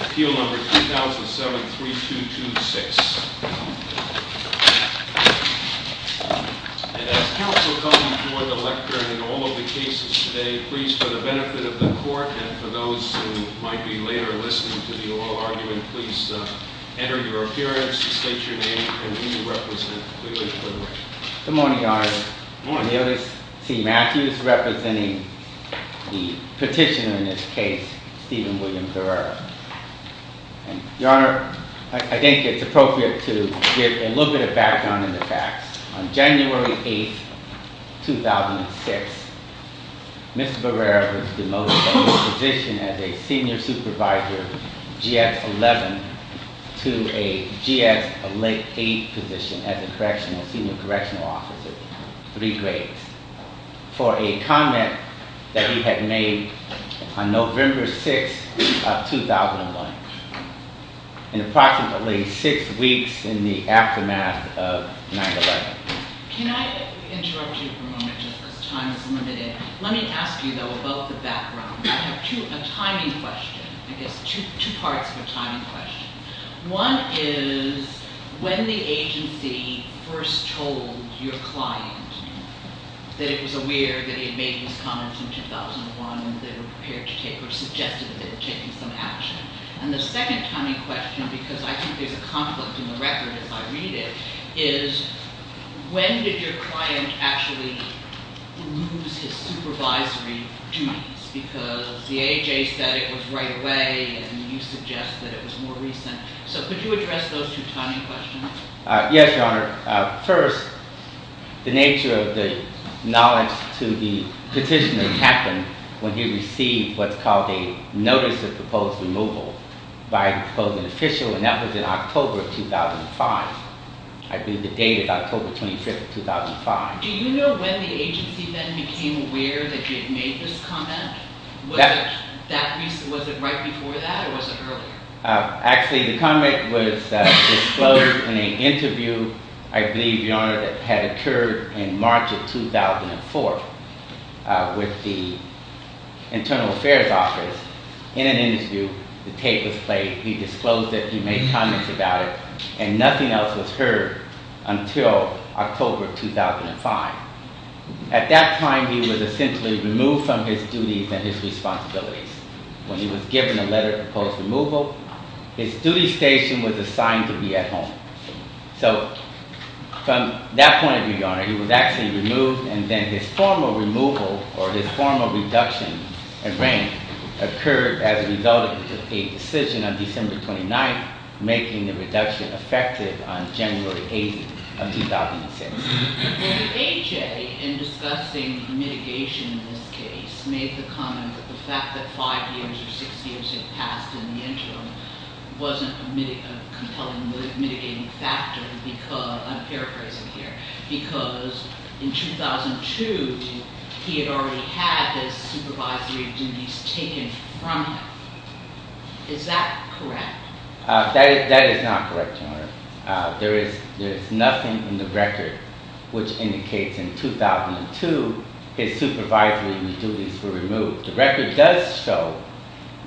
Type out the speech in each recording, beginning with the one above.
Appeal number 2007-3226 As counsel come and join the lecture in all of the cases today, please for the benefit of the court and for those who might be later listening to the oral argument, please enter your appearance, state your name, and who you represent clearly for the record. Good morning, Your Honor. Good morning. Neillis T. Matthews representing the petitioner in this case, Stephen William Barrere. Your Honor, I think it's appropriate to give a little bit of background on the facts. On January 8th, 2006, Mr. Barrere was demoted from his position as a senior supervisor, GS-11, to a GS-8 position as a correctional, senior correctional officer, three grades, for a comment that he had made on November 6th of 2001. And approximately six weeks in the aftermath of 9-11. Can I interrupt you for a moment just because time is limited? Let me ask you, though, about the background. I have two, a timing question. I guess two parts of a timing question. One is when the agency first told your client that it was aware that he had made these comments in 2001, and they were prepared to take, or suggested that they were taking some action. And the second timing question, because I think there's a conflict in the record as I read it, is when did your client actually lose his supervisory duties? Because the AHA said it was right away, and you suggest that it was more recent. So could you address those two timing questions? Yes, Your Honor. First, the nature of the knowledge to the petitioner happened when he received what's called a notice of proposed removal by a proposed official, and that was in October of 2005. I believe the date is October 25th of 2005. Do you know when the agency then became aware that he had made this comment? Was it right before that, or was it earlier? Actually, the comment was disclosed in an interview, I believe, Your Honor, that had occurred in March of 2004 with the Internal Affairs Office. In an interview, the tape was played, he disclosed it, he made comments about it, and nothing else was heard until October 2005. At that time, he was essentially removed from his duties and his responsibilities. When he was given a letter of proposed removal, his duty station was assigned to be at home. So from that point of view, Your Honor, he was actually removed, and then his formal removal, or his formal reduction in rank, occurred as a result of a decision on December 29th making the reduction effective on January 8th of 2006. AJ, in discussing mitigation in this case, made the comment that the fact that 5 years or 6 years had passed in the interim wasn't a compelling mitigating factor because, I'm paraphrasing here, because in 2002, he had already had his supervisory duties taken from him. Is that correct? That is not correct, Your Honor. There is nothing in the record which indicates in 2002 his supervisory duties were removed. The record does show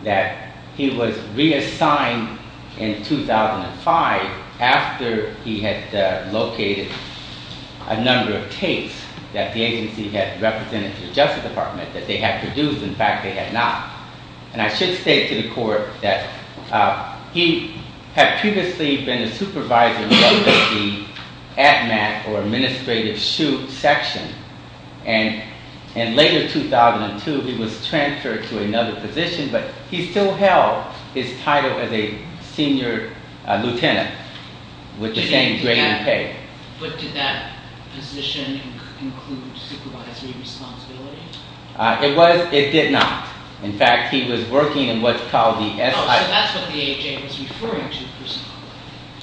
that he was reassigned in 2005 after he had located a number of tapes that the agency had represented to the Justice Department that they had produced. In fact, they had not. And I should state to the Court that he had previously been a supervisor of the ADMAT or Administrative CHU section, and later in 2002, he was transferred to another position, but he still held his title as a senior lieutenant with the same grade and pay. But did that position include supervisory responsibility? It did not. In fact, he was working in what's called the S.I. Oh, so that's what the AJ was referring to.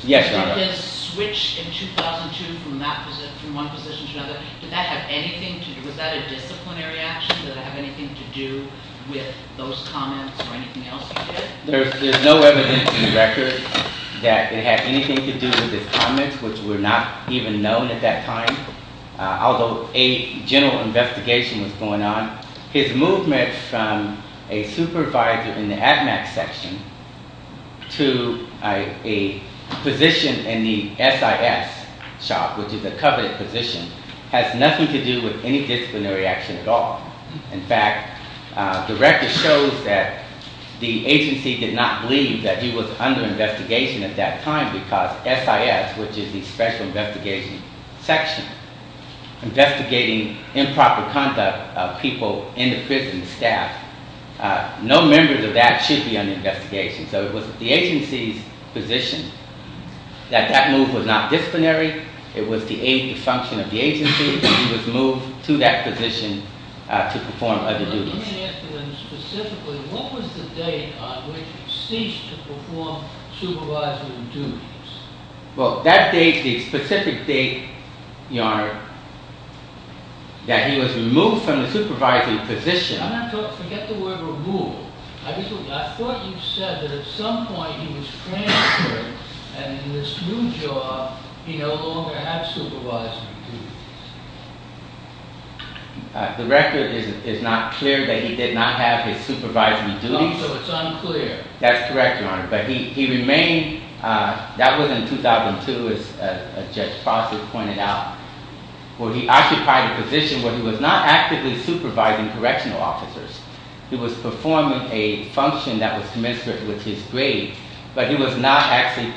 Yes, Your Honor. Did his switch in 2002 from one position to another, did that have anything to do, was that a disciplinary action? Did it have anything to do with those comments or anything else he did? There's no evidence in the record that it had anything to do with his comments, which were not even known at that time. Although a general investigation was going on, his movement from a supervisor in the ADMAT section to a position in the S.I.S. shop, which is a coveted position, has nothing to do with any disciplinary action at all. In fact, the record shows that the agency did not believe that he was under investigation at that time because S.I.S., which is the Special Investigation Section, investigating improper conduct of people in the prison staff, no member of that should be under investigation. So it was the agency's position that that move was not disciplinary. It was the function of the agency. He was moved to that position to perform other duties. Let me ask you then specifically, what was the date on which he ceased to perform supervisory duties? Well, that date, the specific date, Your Honor, that he was removed from the supervisory position. I'm not talking, forget the word removed. I thought you said that at some point he was transferred and in this new job he no longer had supervisory duties. The record is not clear that he did not have his supervisory duties. Oh, so it's unclear. That's correct, Your Honor. But he remained, that was in 2002, as Judge Fossett pointed out, where he occupied a position where he was not actively supervising correctional officers. He was performing a function that was commensurate with his grade, but he was not actually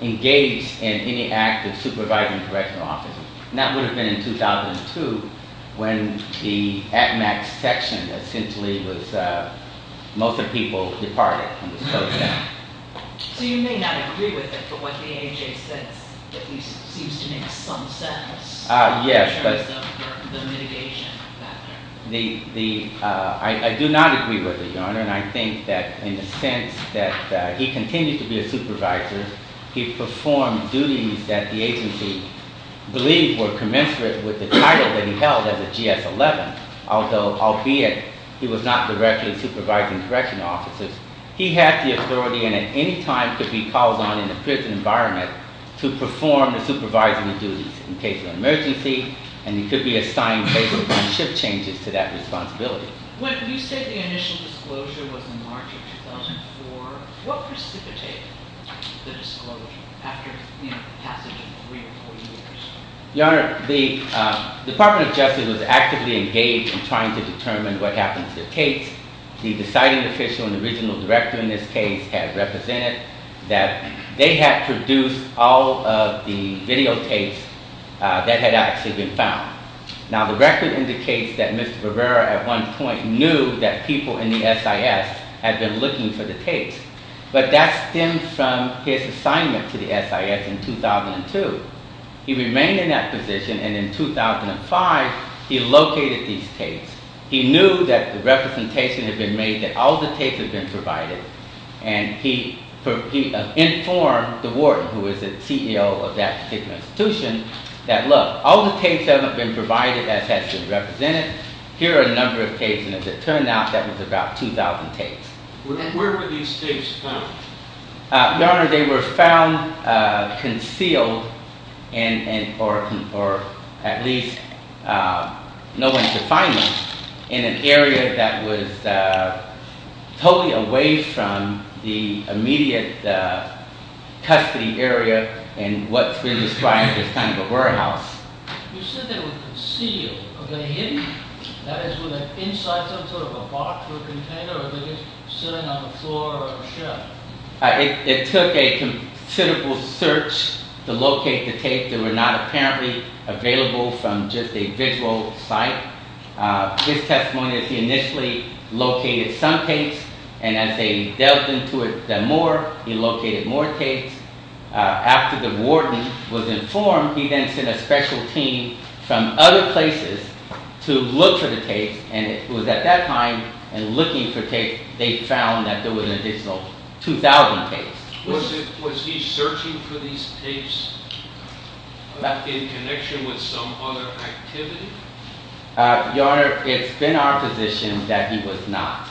engaged in any act of supervising correctional officers. And that would have been in 2002 when the at-max section essentially was most of the people departed from the program. So you may not agree with it, but what the agency says that he seems to make some sense in terms of the mitigation factor. I do not agree with it, Your Honor, and I think that in a sense that he continued to be a supervisor. He performed duties that the agency believed were commensurate with the title that he held as a GS-11, although, albeit he was not directly supervising correctional officers, he had the authority and at any time could be called on in a prison environment to perform the supervisory duties in case of emergency, and he could be assigned basic shift changes to that responsibility. When you say the initial disclosure was in March of 2004, what precipitated the disclosure after the passage of three or four years? Your Honor, the Department of Justice was actively engaged in trying to determine what happened to the tapes. The deciding official and original director in this case had represented that they had produced all of the videotapes that had actually been found. Now, the record indicates that Mr. Rivera at one point knew that people in the SIS had been looking for the tapes, but that stemmed from his assignment to the SIS in 2002. He remained in that position, and in 2005, he located these tapes. He knew that the representation had been made, that all the tapes had been provided, and he informed the warden, who was the CEO of that particular institution, that, look, all the tapes that have been provided has been represented. Here are a number of tapes, and as it turned out, that was about 2,000 tapes. Where were these tapes found? Your Honor, they were found concealed, or at least no one could find them, in an area that was totally away from the immediate custody area and what's really described as kind of a warehouse. You said they were concealed. Were they hidden? That is, were they inside some sort of a box or a container, or were they just sitting on the floor or a shelf? It took a considerable search to locate the tapes. They were not apparently available from just a visual site. His testimony is he initially located some tapes, and as they delved into it more, he located more tapes. After the warden was informed, he then sent a special team from other places to look for the tapes, and it was at that time, in looking for tapes, they found that there was an additional 2,000 tapes. Was he searching for these tapes in connection with some other activity? Your Honor, it's been our position that he was not,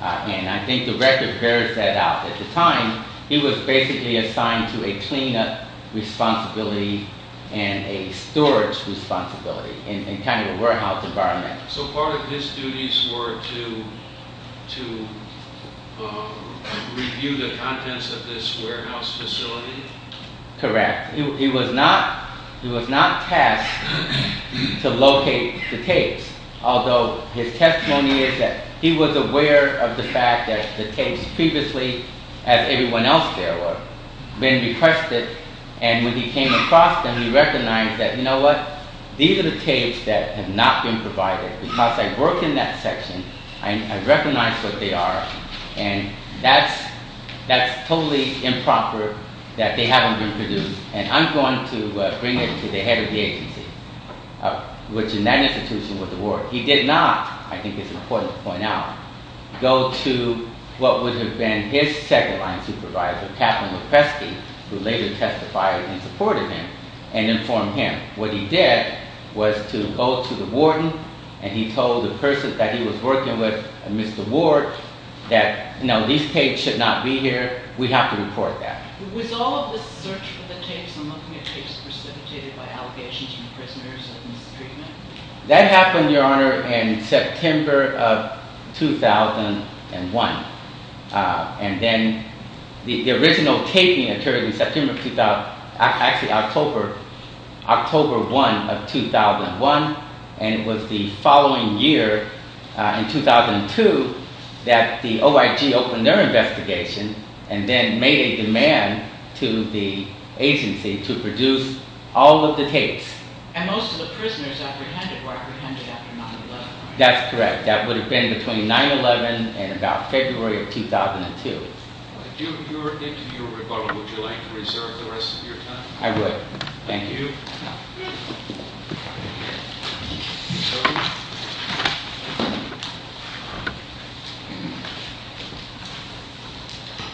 and I think the record bears that at the time, he was basically assigned to a cleanup responsibility and a storage responsibility in kind of a warehouse environment. So part of his duties were to review the contents of this warehouse facility? Correct. He was not tasked to locate the tapes, although his testimony is that he was aware of the tapes previously as everyone else there were. Then he pressed it, and when he came across them, he recognized that, you know what? These are the tapes that have not been provided. Because I worked in that section, I recognized what they are, and that's totally improper that they haven't been produced, and I'm going to bring it to the head of the agency, which in that institution was the warden. He did not, I think it's important to point out, go to what would have been his second line supervisor, Catherine Lofesky, who later testified in support of him and informed him. What he did was to go to the warden, and he told the person that he was working with, Mr. Ward, that no, these tapes should not be here. We have to report that. Was all of the search for the tapes and looking at tapes precipitated by allegations from prisoners of mistreatment? That happened, Your Honor, in September of 2001, and then the original taping occurred in September, actually October 1 of 2001, and it was the following year, in 2002, that the OIG opened their investigation and then made a demand to the agency to produce all of the tapes. And most of the prisoners apprehended were apprehended after 9-11. That's correct. That would have been between 9-11 and about February of 2002. If you were into your rebuttal, would you like to reserve the rest of your time? I would. Thank you.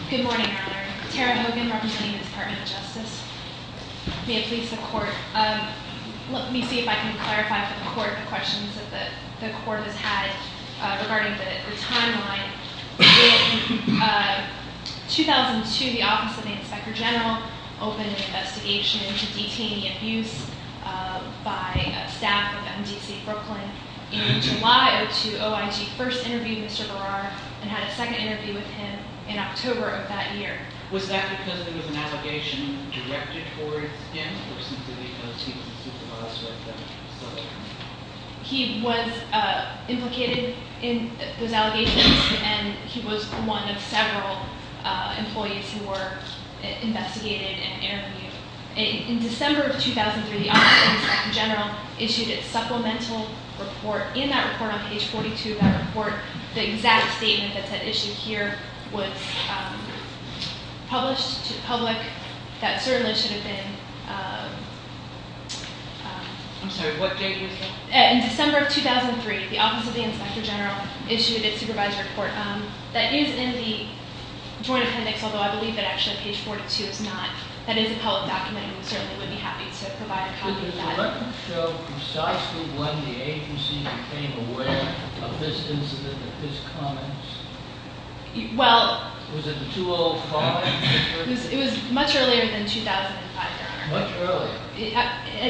Good morning, Your Honor. Tara Hogan, representing the Department of Justice. May it please the Court. Let me see if I can clarify for the Court the questions that the Court has had regarding the timeline. In 2002, the Office of the Inspector General opened an investigation into detainee abuse by staff of MDC Brooklyn. In July of 2002, OIG first interviewed Mr. Berrar and had a second interview with him in October of that year. Was that because there was an allegation directed towards him or simply because he was a supervisor at the facility? He was implicated in those allegations, and he was one of several employees who were investigated and interviewed. In December of 2003, the Office of the Inspector General issued its supplemental report. In that report on page 42 of that report, the exact statement that's at issue here was published to the public. That certainly should have been – I'm sorry. What date was that? In December of 2003, the Office of the Inspector General issued its supervisor report. That is in the Joint Appendix, although I believe that actually page 42 is not. That is a public document, and we certainly would be happy to provide a copy of that. Did his record show precisely when the agency became aware of this incident, of his comments? Well – Was it the 2-0 call? It was much earlier than 2005, Your Honor. Much earlier.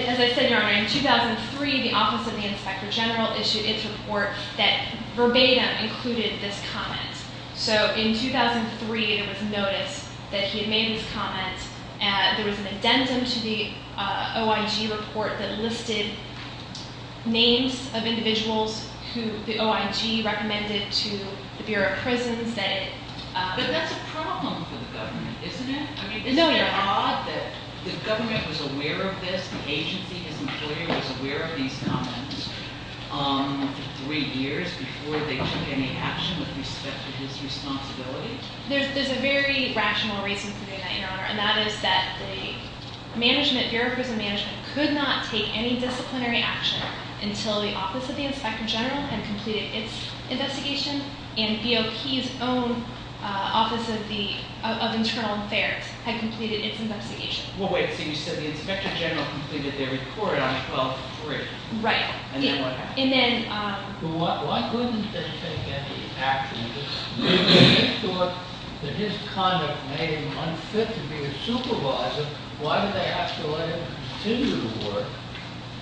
As I said, Your Honor, in 2003, the Office of the Inspector General issued its report that verbatim included this comment. So in 2003, there was notice that he had made these comments. There was an addendum to the OIG report that listed names of individuals who the OIG recommended to the Bureau of Prisons that it – But that's a problem for the government, isn't it? No, Your Honor. I mean, isn't it odd that the government was aware of this, the agency, his employer, was aware of these comments three years before they took any action with respect to his responsibility? There's a very rational reason for doing that, Your Honor, and that is that the management, Bureau of Prisons management, could not take any disciplinary action until the Office of the Inspector General had completed its investigation and BOP's own Office of Internal Affairs had completed its investigation. Well, wait. So you said the Inspector General completed their report on 12-3. Right. And then what happened? Well, why couldn't they take any action? If they thought that his conduct made him unfit to be a supervisor, why did they have to let him continue to work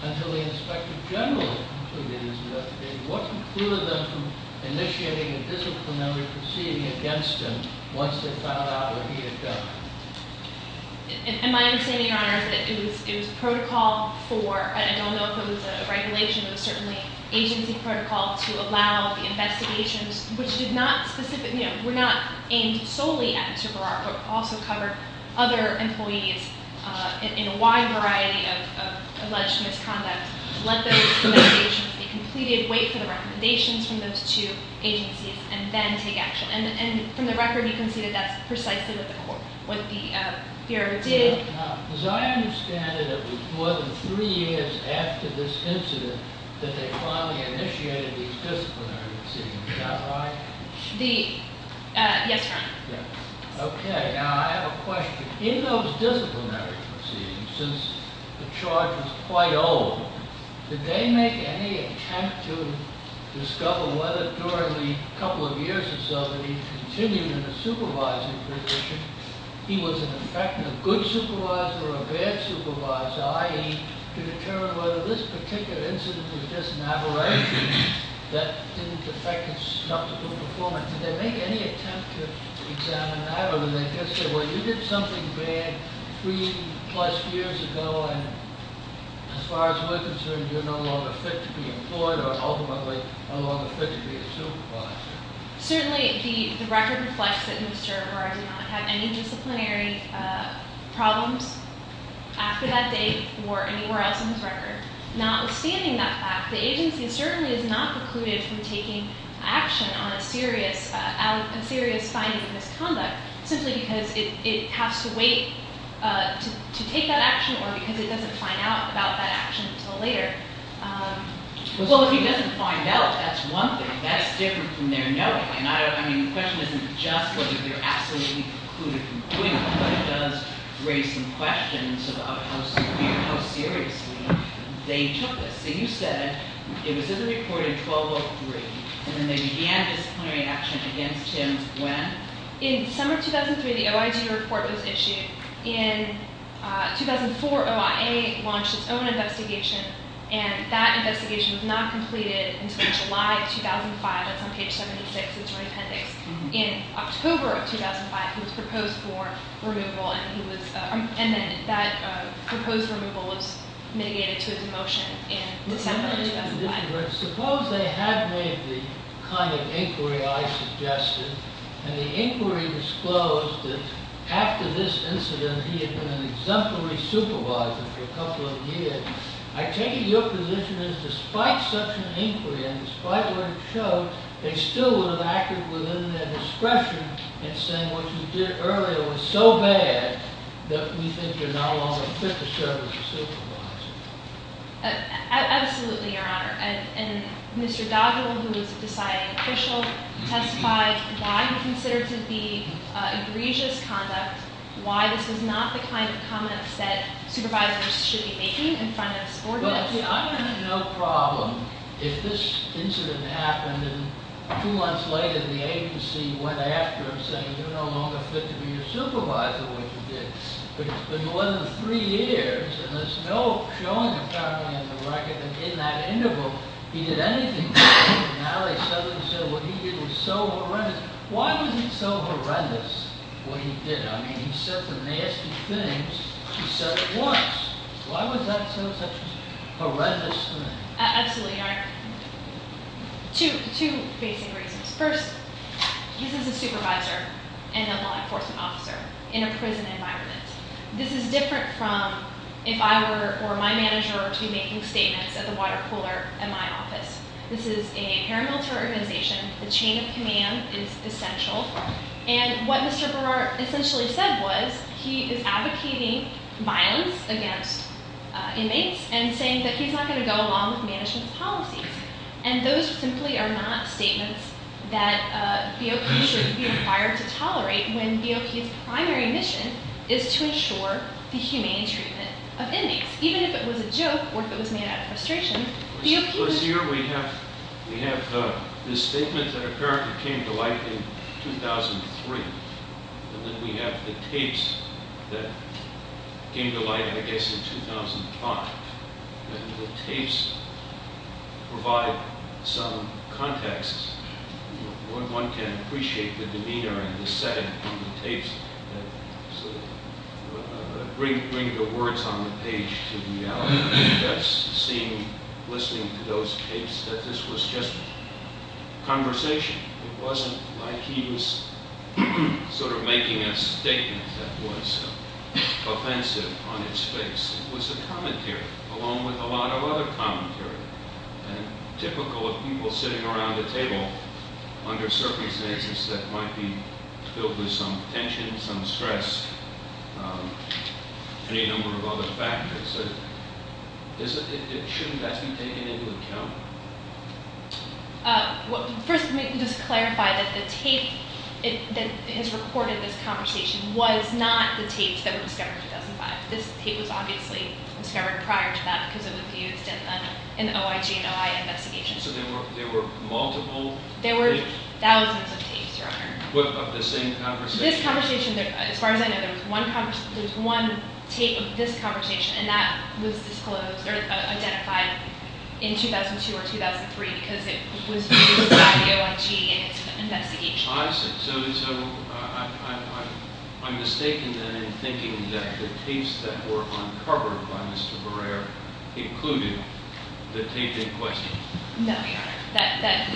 until the Inspector General completed his investigation? What precluded them from initiating a disciplinary proceeding against him once they found out what he had done? And my understanding, Your Honor, is that it was protocol for – it was protocol to allow the investigations, which were not aimed solely at Mr. Berrar, but also covered other employees in a wide variety of alleged misconduct, let those investigations be completed, wait for the recommendations from those two agencies, and then take action. And from the record, you can see that that's precisely what the Bureau did. As I understand it, it was more than three years after this incident that they finally initiated these disciplinary proceedings. Is that right? The – yes, Your Honor. Okay. Now, I have a question. In those disciplinary proceedings, since the charge was quite old, did they make any attempt to discover whether during the couple of years or so that he continued in a supervising position, he was in effect a good supervisor or a bad supervisor, i.e., to determine whether this particular incident was just an aberration that didn't affect his skeptical performance? Did they make any attempt to examine that? Or did they just say, well, you did something bad three-plus years ago, and as far as we're concerned, you're no longer fit to be employed or ultimately no longer fit to be a supervisor? Certainly, the record reflects that Mr. O'Gara did not have any disciplinary problems after that day or anywhere else in his record. Notwithstanding that fact, the agency certainly is not precluded from taking action on a serious finding of misconduct simply because it has to wait to take that action or because it doesn't find out about that action until later. Well, if he doesn't find out, that's one thing. That's different from their knowing. I mean, the question isn't just whether they're absolutely precluded from doing it, but it does raise some questions about how seriously they took this. You said it was in the report in 1203, and then they began disciplinary action against him when? In summer 2003, the OIG report was issued. In 2004, OIA launched its own investigation, and that investigation was not completed until July 2005. That's on page 76 of your appendix. In October of 2005, he was proposed for removal, and that proposed removal was mitigated to a demotion in December of 2005. Suppose they had made the kind of inquiry I suggested, and the inquiry disclosed that after this incident, he had been an exemplary supervisor for a couple of years. I take it your position is despite such an inquiry and despite what it showed, they still would have acted within their discretion in saying what you did earlier was so bad that we think you're no longer fit to serve as a supervisor. Absolutely, Your Honor. And Mr. Dodwell, who was the deciding official, testified why he considered to be egregious conduct, why this was not the kind of comments that supervisors should be making in front of subordinates. Well, I have no problem if this incident happened, and two months later the agency went after him saying, you're no longer fit to be a supervisor like you did. But it's been more than three years, and there's no showing apparently in the record that in that interval he did anything. Now they said what he did was so horrendous. Why was it so horrendous what he did? I mean, he said some nasty things. He said it once. Why was that such a horrendous thing? Absolutely, Your Honor. Two basic reasons. First, he's a supervisor and a law enforcement officer in a prison environment. This is different from if I were or my manager were to be making statements at the water cooler at my office. This is a paramilitary organization. The chain of command is essential. And what Mr. Berard essentially said was he is advocating violence against inmates and saying that he's not going to go along with management's policies. And those simply are not statements that BOP should be required to tolerate when BOP's primary mission is to ensure the humane treatment of inmates. Even if it was a joke or if it was made out of frustration, BOP... First of all, here we have this statement that apparently came to light in 2003, and then we have the tapes that came to light, I guess, in 2005. And the tapes provide some context. One can appreciate the demeanor and the setting of the tapes that sort of bring the words on the page to reality. That's seeing, listening to those tapes, that this was just conversation. It wasn't like he was sort of making a statement that was offensive on its face. It was a commentary, along with a lot of other commentary. And typical of people sitting around a table under circumstances that might be filled with some tension, some stress, any number of other factors. Shouldn't that be taken into account? First, let me just clarify that the tape that has recorded this conversation was not the tapes that were discovered in 2005. This tape was obviously discovered prior to that because it was used in the OIG and OI investigations. So there were multiple tapes? There were thousands of tapes, Your Honor. Of the same conversation? This conversation, as far as I know, there was one tape of this conversation, and that was disclosed or identified in 2002 or 2003 because it was used by the OIG in its investigation. I see. So I'm mistaken then in thinking that the tapes that were uncovered by Mr. Barrera included the tape in question. No, Your Honor.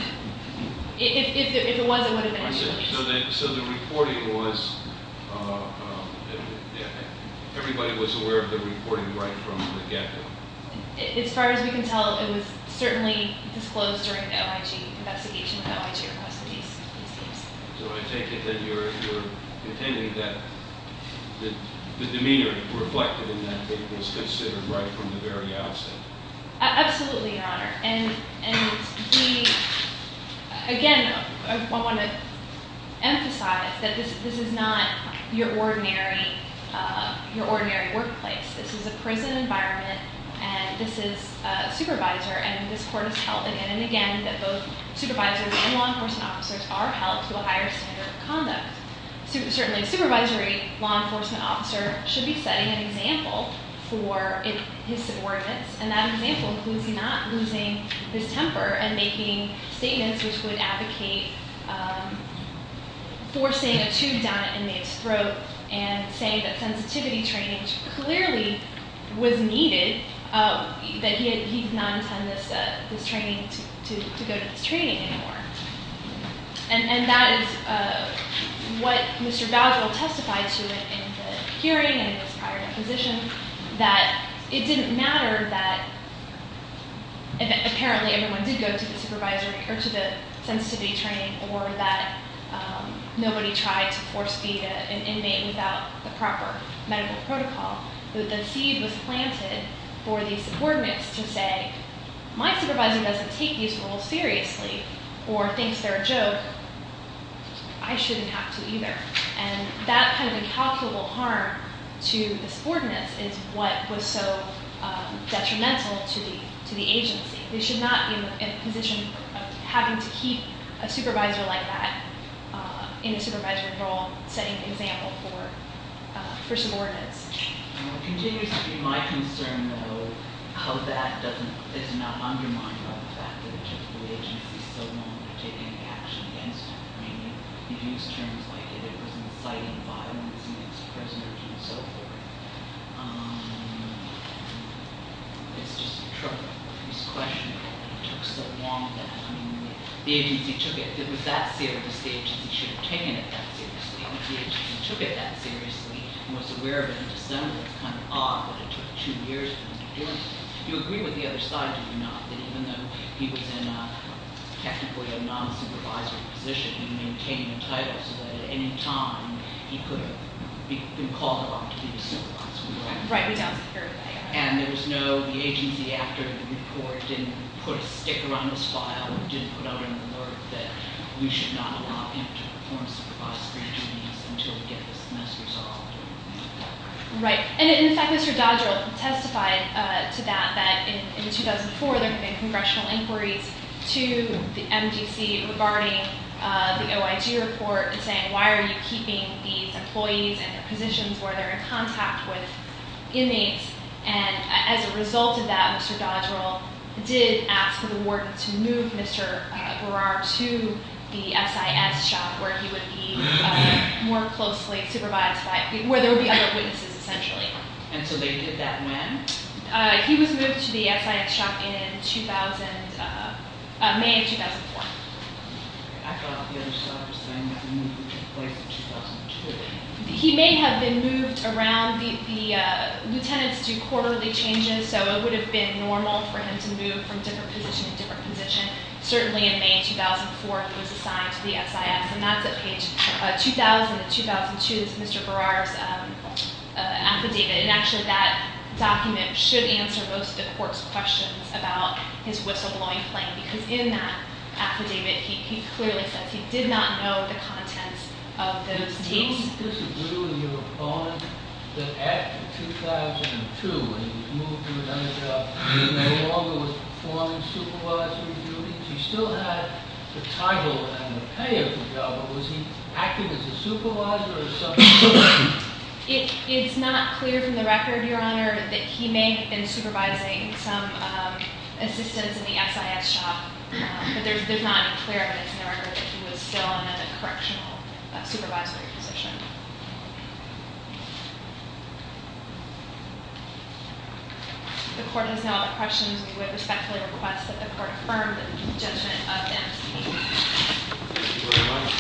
If it was, it would have been in question. So the reporting was, everybody was aware of the reporting right from the get-go? As far as we can tell, it was certainly disclosed during the OIG investigation, when the OIG requested these tapes. So I take it that you're contending that the demeanor reflected in that tape was considered right from the very outset? Absolutely, Your Honor. And again, I want to emphasize that this is not your ordinary workplace. This is a prison environment, and this is a supervisor, and this court has held again and again that both supervisors and law enforcement officers are held to a higher standard of conduct. Certainly, a supervisory law enforcement officer should be setting an example for his subordinates, and that example includes not losing his temper and making statements which would advocate forcing a tube down an inmate's throat and saying that sensitivity training clearly was needed, that he did not intend this training to go to this training anymore. And that is what Mr. Bagel testified to in the hearing and in his prior position, that it didn't matter that apparently everyone did go to the sensitivity training or that nobody tried to force feed an inmate without the proper medical protocol, that the seed was planted for the subordinates to say, my supervisor doesn't take these rules seriously or thinks they're a joke. I shouldn't have to either. And that kind of incalculable harm to the subordinates is what was so detrimental to the agency. They should not be in a position of having to keep a supervisor like that in a supervisory role, setting an example for subordinates. It continues to be my concern, though, how that doesn't, it's not undermining the fact that it took the agency so long to take any action against him. I mean, you use terms like it was inciting violence against prisoners and so forth. It's just a troubling question. It took so long that, I mean, the agency took it, it was that serious. The agency should have taken it that seriously. If the agency took it that seriously and was aware of it in December, it's kind of odd that it took two years for them to do it. Do you agree with the other side or do you not, that even though he was in a technically a non-supervisory position, he maintained the title so that at any time he could have been called upon to be the supervisor? Right, we don't. And there was no, the agency after the report didn't put a sticker on his file or didn't put out an alert that we should not allow him to perform supervisory duties until we get this mess resolved? Right. And in fact, Mr. Dodrell testified to that, that in 2004, there had been congressional inquiries to the MDC regarding the OIG report and saying, why are you keeping these employees and their positions where they're in contact with inmates? And as a result of that, Mr. Dodrell did ask for the warden to move Mr. Berrar to the SIS shop where he would be more closely supervised by, where there would be other witnesses essentially. And so they did that when? He was moved to the SIS shop in 2000, May of 2004. I thought the other stuff was saying that move took place in 2002. He may have been moved around. The lieutenants do quarterly changes, so it would have been normal for him to move from different position to different position. Certainly in May of 2004, he was assigned to the SIS. And that's at page 2000 and 2002. That's Mr. Berrar's affidavit. And actually, that document should answer most of the court's questions about his whistleblowing claim because in that affidavit, he clearly says he did not know the contents of those tapes. Do you disagree with your opponent that after 2002, when he was moved to another job, he no longer was performing supervisory duties? He still had the title and the pay of the job, but was he acting as a supervisor or something else? It's not clear from the record, Your Honor, that he may have been supervising some assistants in the SIS shop. But there's not any clear evidence in the record that he was still in a correctional supervisory position. If the court has no other questions, we would respectfully request that the court affirm the judgment of M.C. Thank you very much.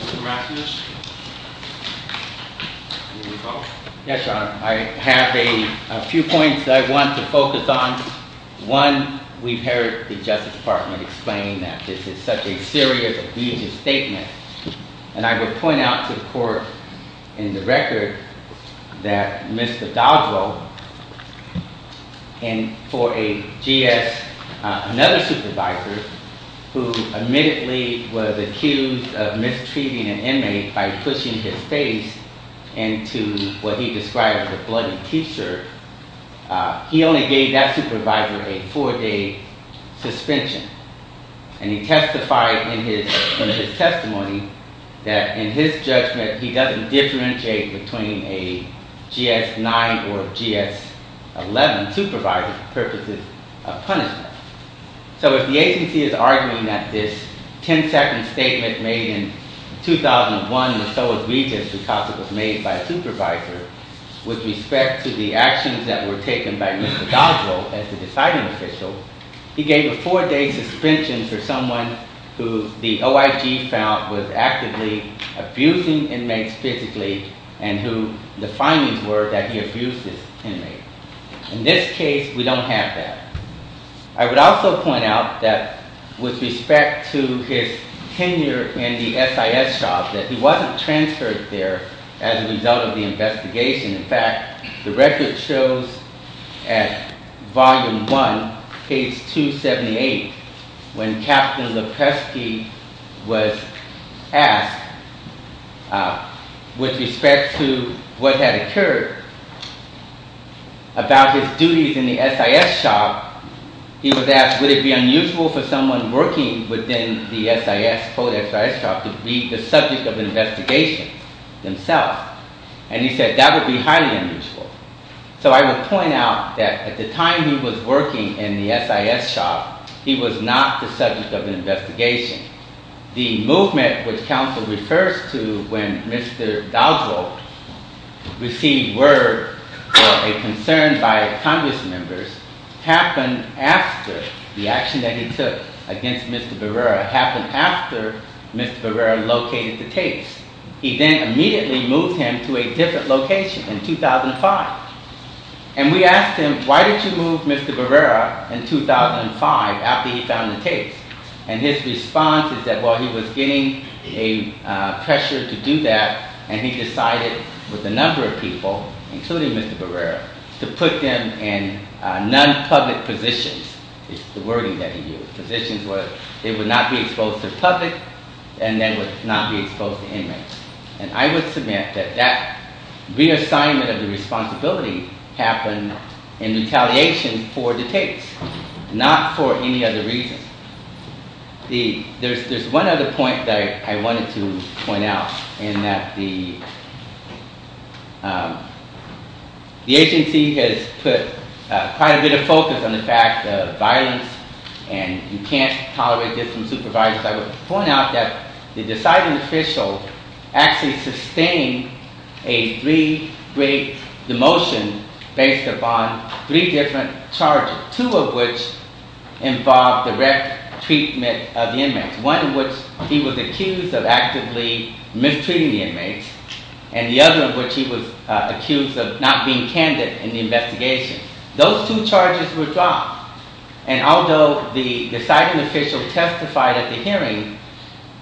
Mr. Rasmus? Yes, Your Honor. I have a few points that I want to focus on. One, we've heard the Justice Department explain that this is such a serious, abusive statement. And I would point out to the court in the record that Mr. Doddrell, and for another supervisor who admittedly was accused of mistreating an inmate by pushing his face into what he described as a bloody T-shirt, he only gave that supervisor a four-day suspension. And he testified in his testimony that in his judgment he doesn't differentiate between a GS-9 or a GS-11 supervisor for purposes of punishment. So if the agency is arguing that this 10-second statement made in 2001 was so egregious because it was made by a supervisor with respect to the actions that were taken by Mr. Doddrell as the deciding official, he gave a four-day suspension for someone who the OIG found was actively abusing inmates physically and who the findings were that he abused this inmate. In this case, we don't have that. I would also point out that with respect to his tenure in the SIS shop, that he wasn't transferred there as a result of the investigation. In fact, the record shows at Volume 1, Page 278, when Captain Lepreski was asked with respect to what had occurred about his duties in the SIS shop, he was asked would it be unusual for someone working within the SIS, the SIS shop, to be the subject of investigation himself. And he said that would be highly unusual. So I would point out that at the time he was working in the SIS shop, he was not the subject of investigation. The movement which counsel refers to when Mr. Doddrell received word or a concern by Congress members happened after the action that he took against Mr. Barrera happened after Mr. Barrera located the tapes. He then immediately moved him to a different location in 2005. And we asked him, why did you move Mr. Barrera in 2005 after he found the tapes? And his response is that while he was getting a pressure to do that, and he decided with a number of people, including Mr. Barrera, to put them in non-public positions. It's the wording that he used. Positions where they would not be exposed to the public and then would not be exposed to inmates. And I would submit that that reassignment of the responsibility happened in retaliation for the tapes, not for any other reason. There's one other point that I wanted to point out in that the agency has put quite a bit of focus on the fact of violence and you can't tolerate this from supervisors. I would point out that the deciding official actually sustained a three-grade demotion based upon three different charges. Two of which involved direct treatment of the inmates. One in which he was accused of actively mistreating the inmates. And the other in which he was accused of not being candid in the investigation. Those two charges were dropped. And although the deciding official testified at the hearing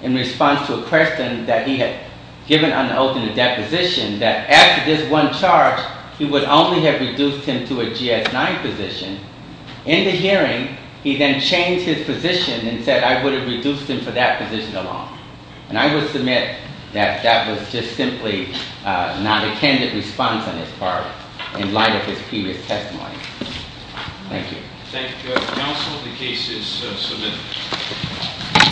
in response to a question that he had given on the oath in the deposition, that after this one charge he would only have reduced him to a GS-9 position, in the hearing he then changed his position and said, I would have reduced him for that position alone. And I would submit that that was just simply not a candid response on his part in light of his previous testimony. Thank you. Thank you. Counsel, the case is submitted.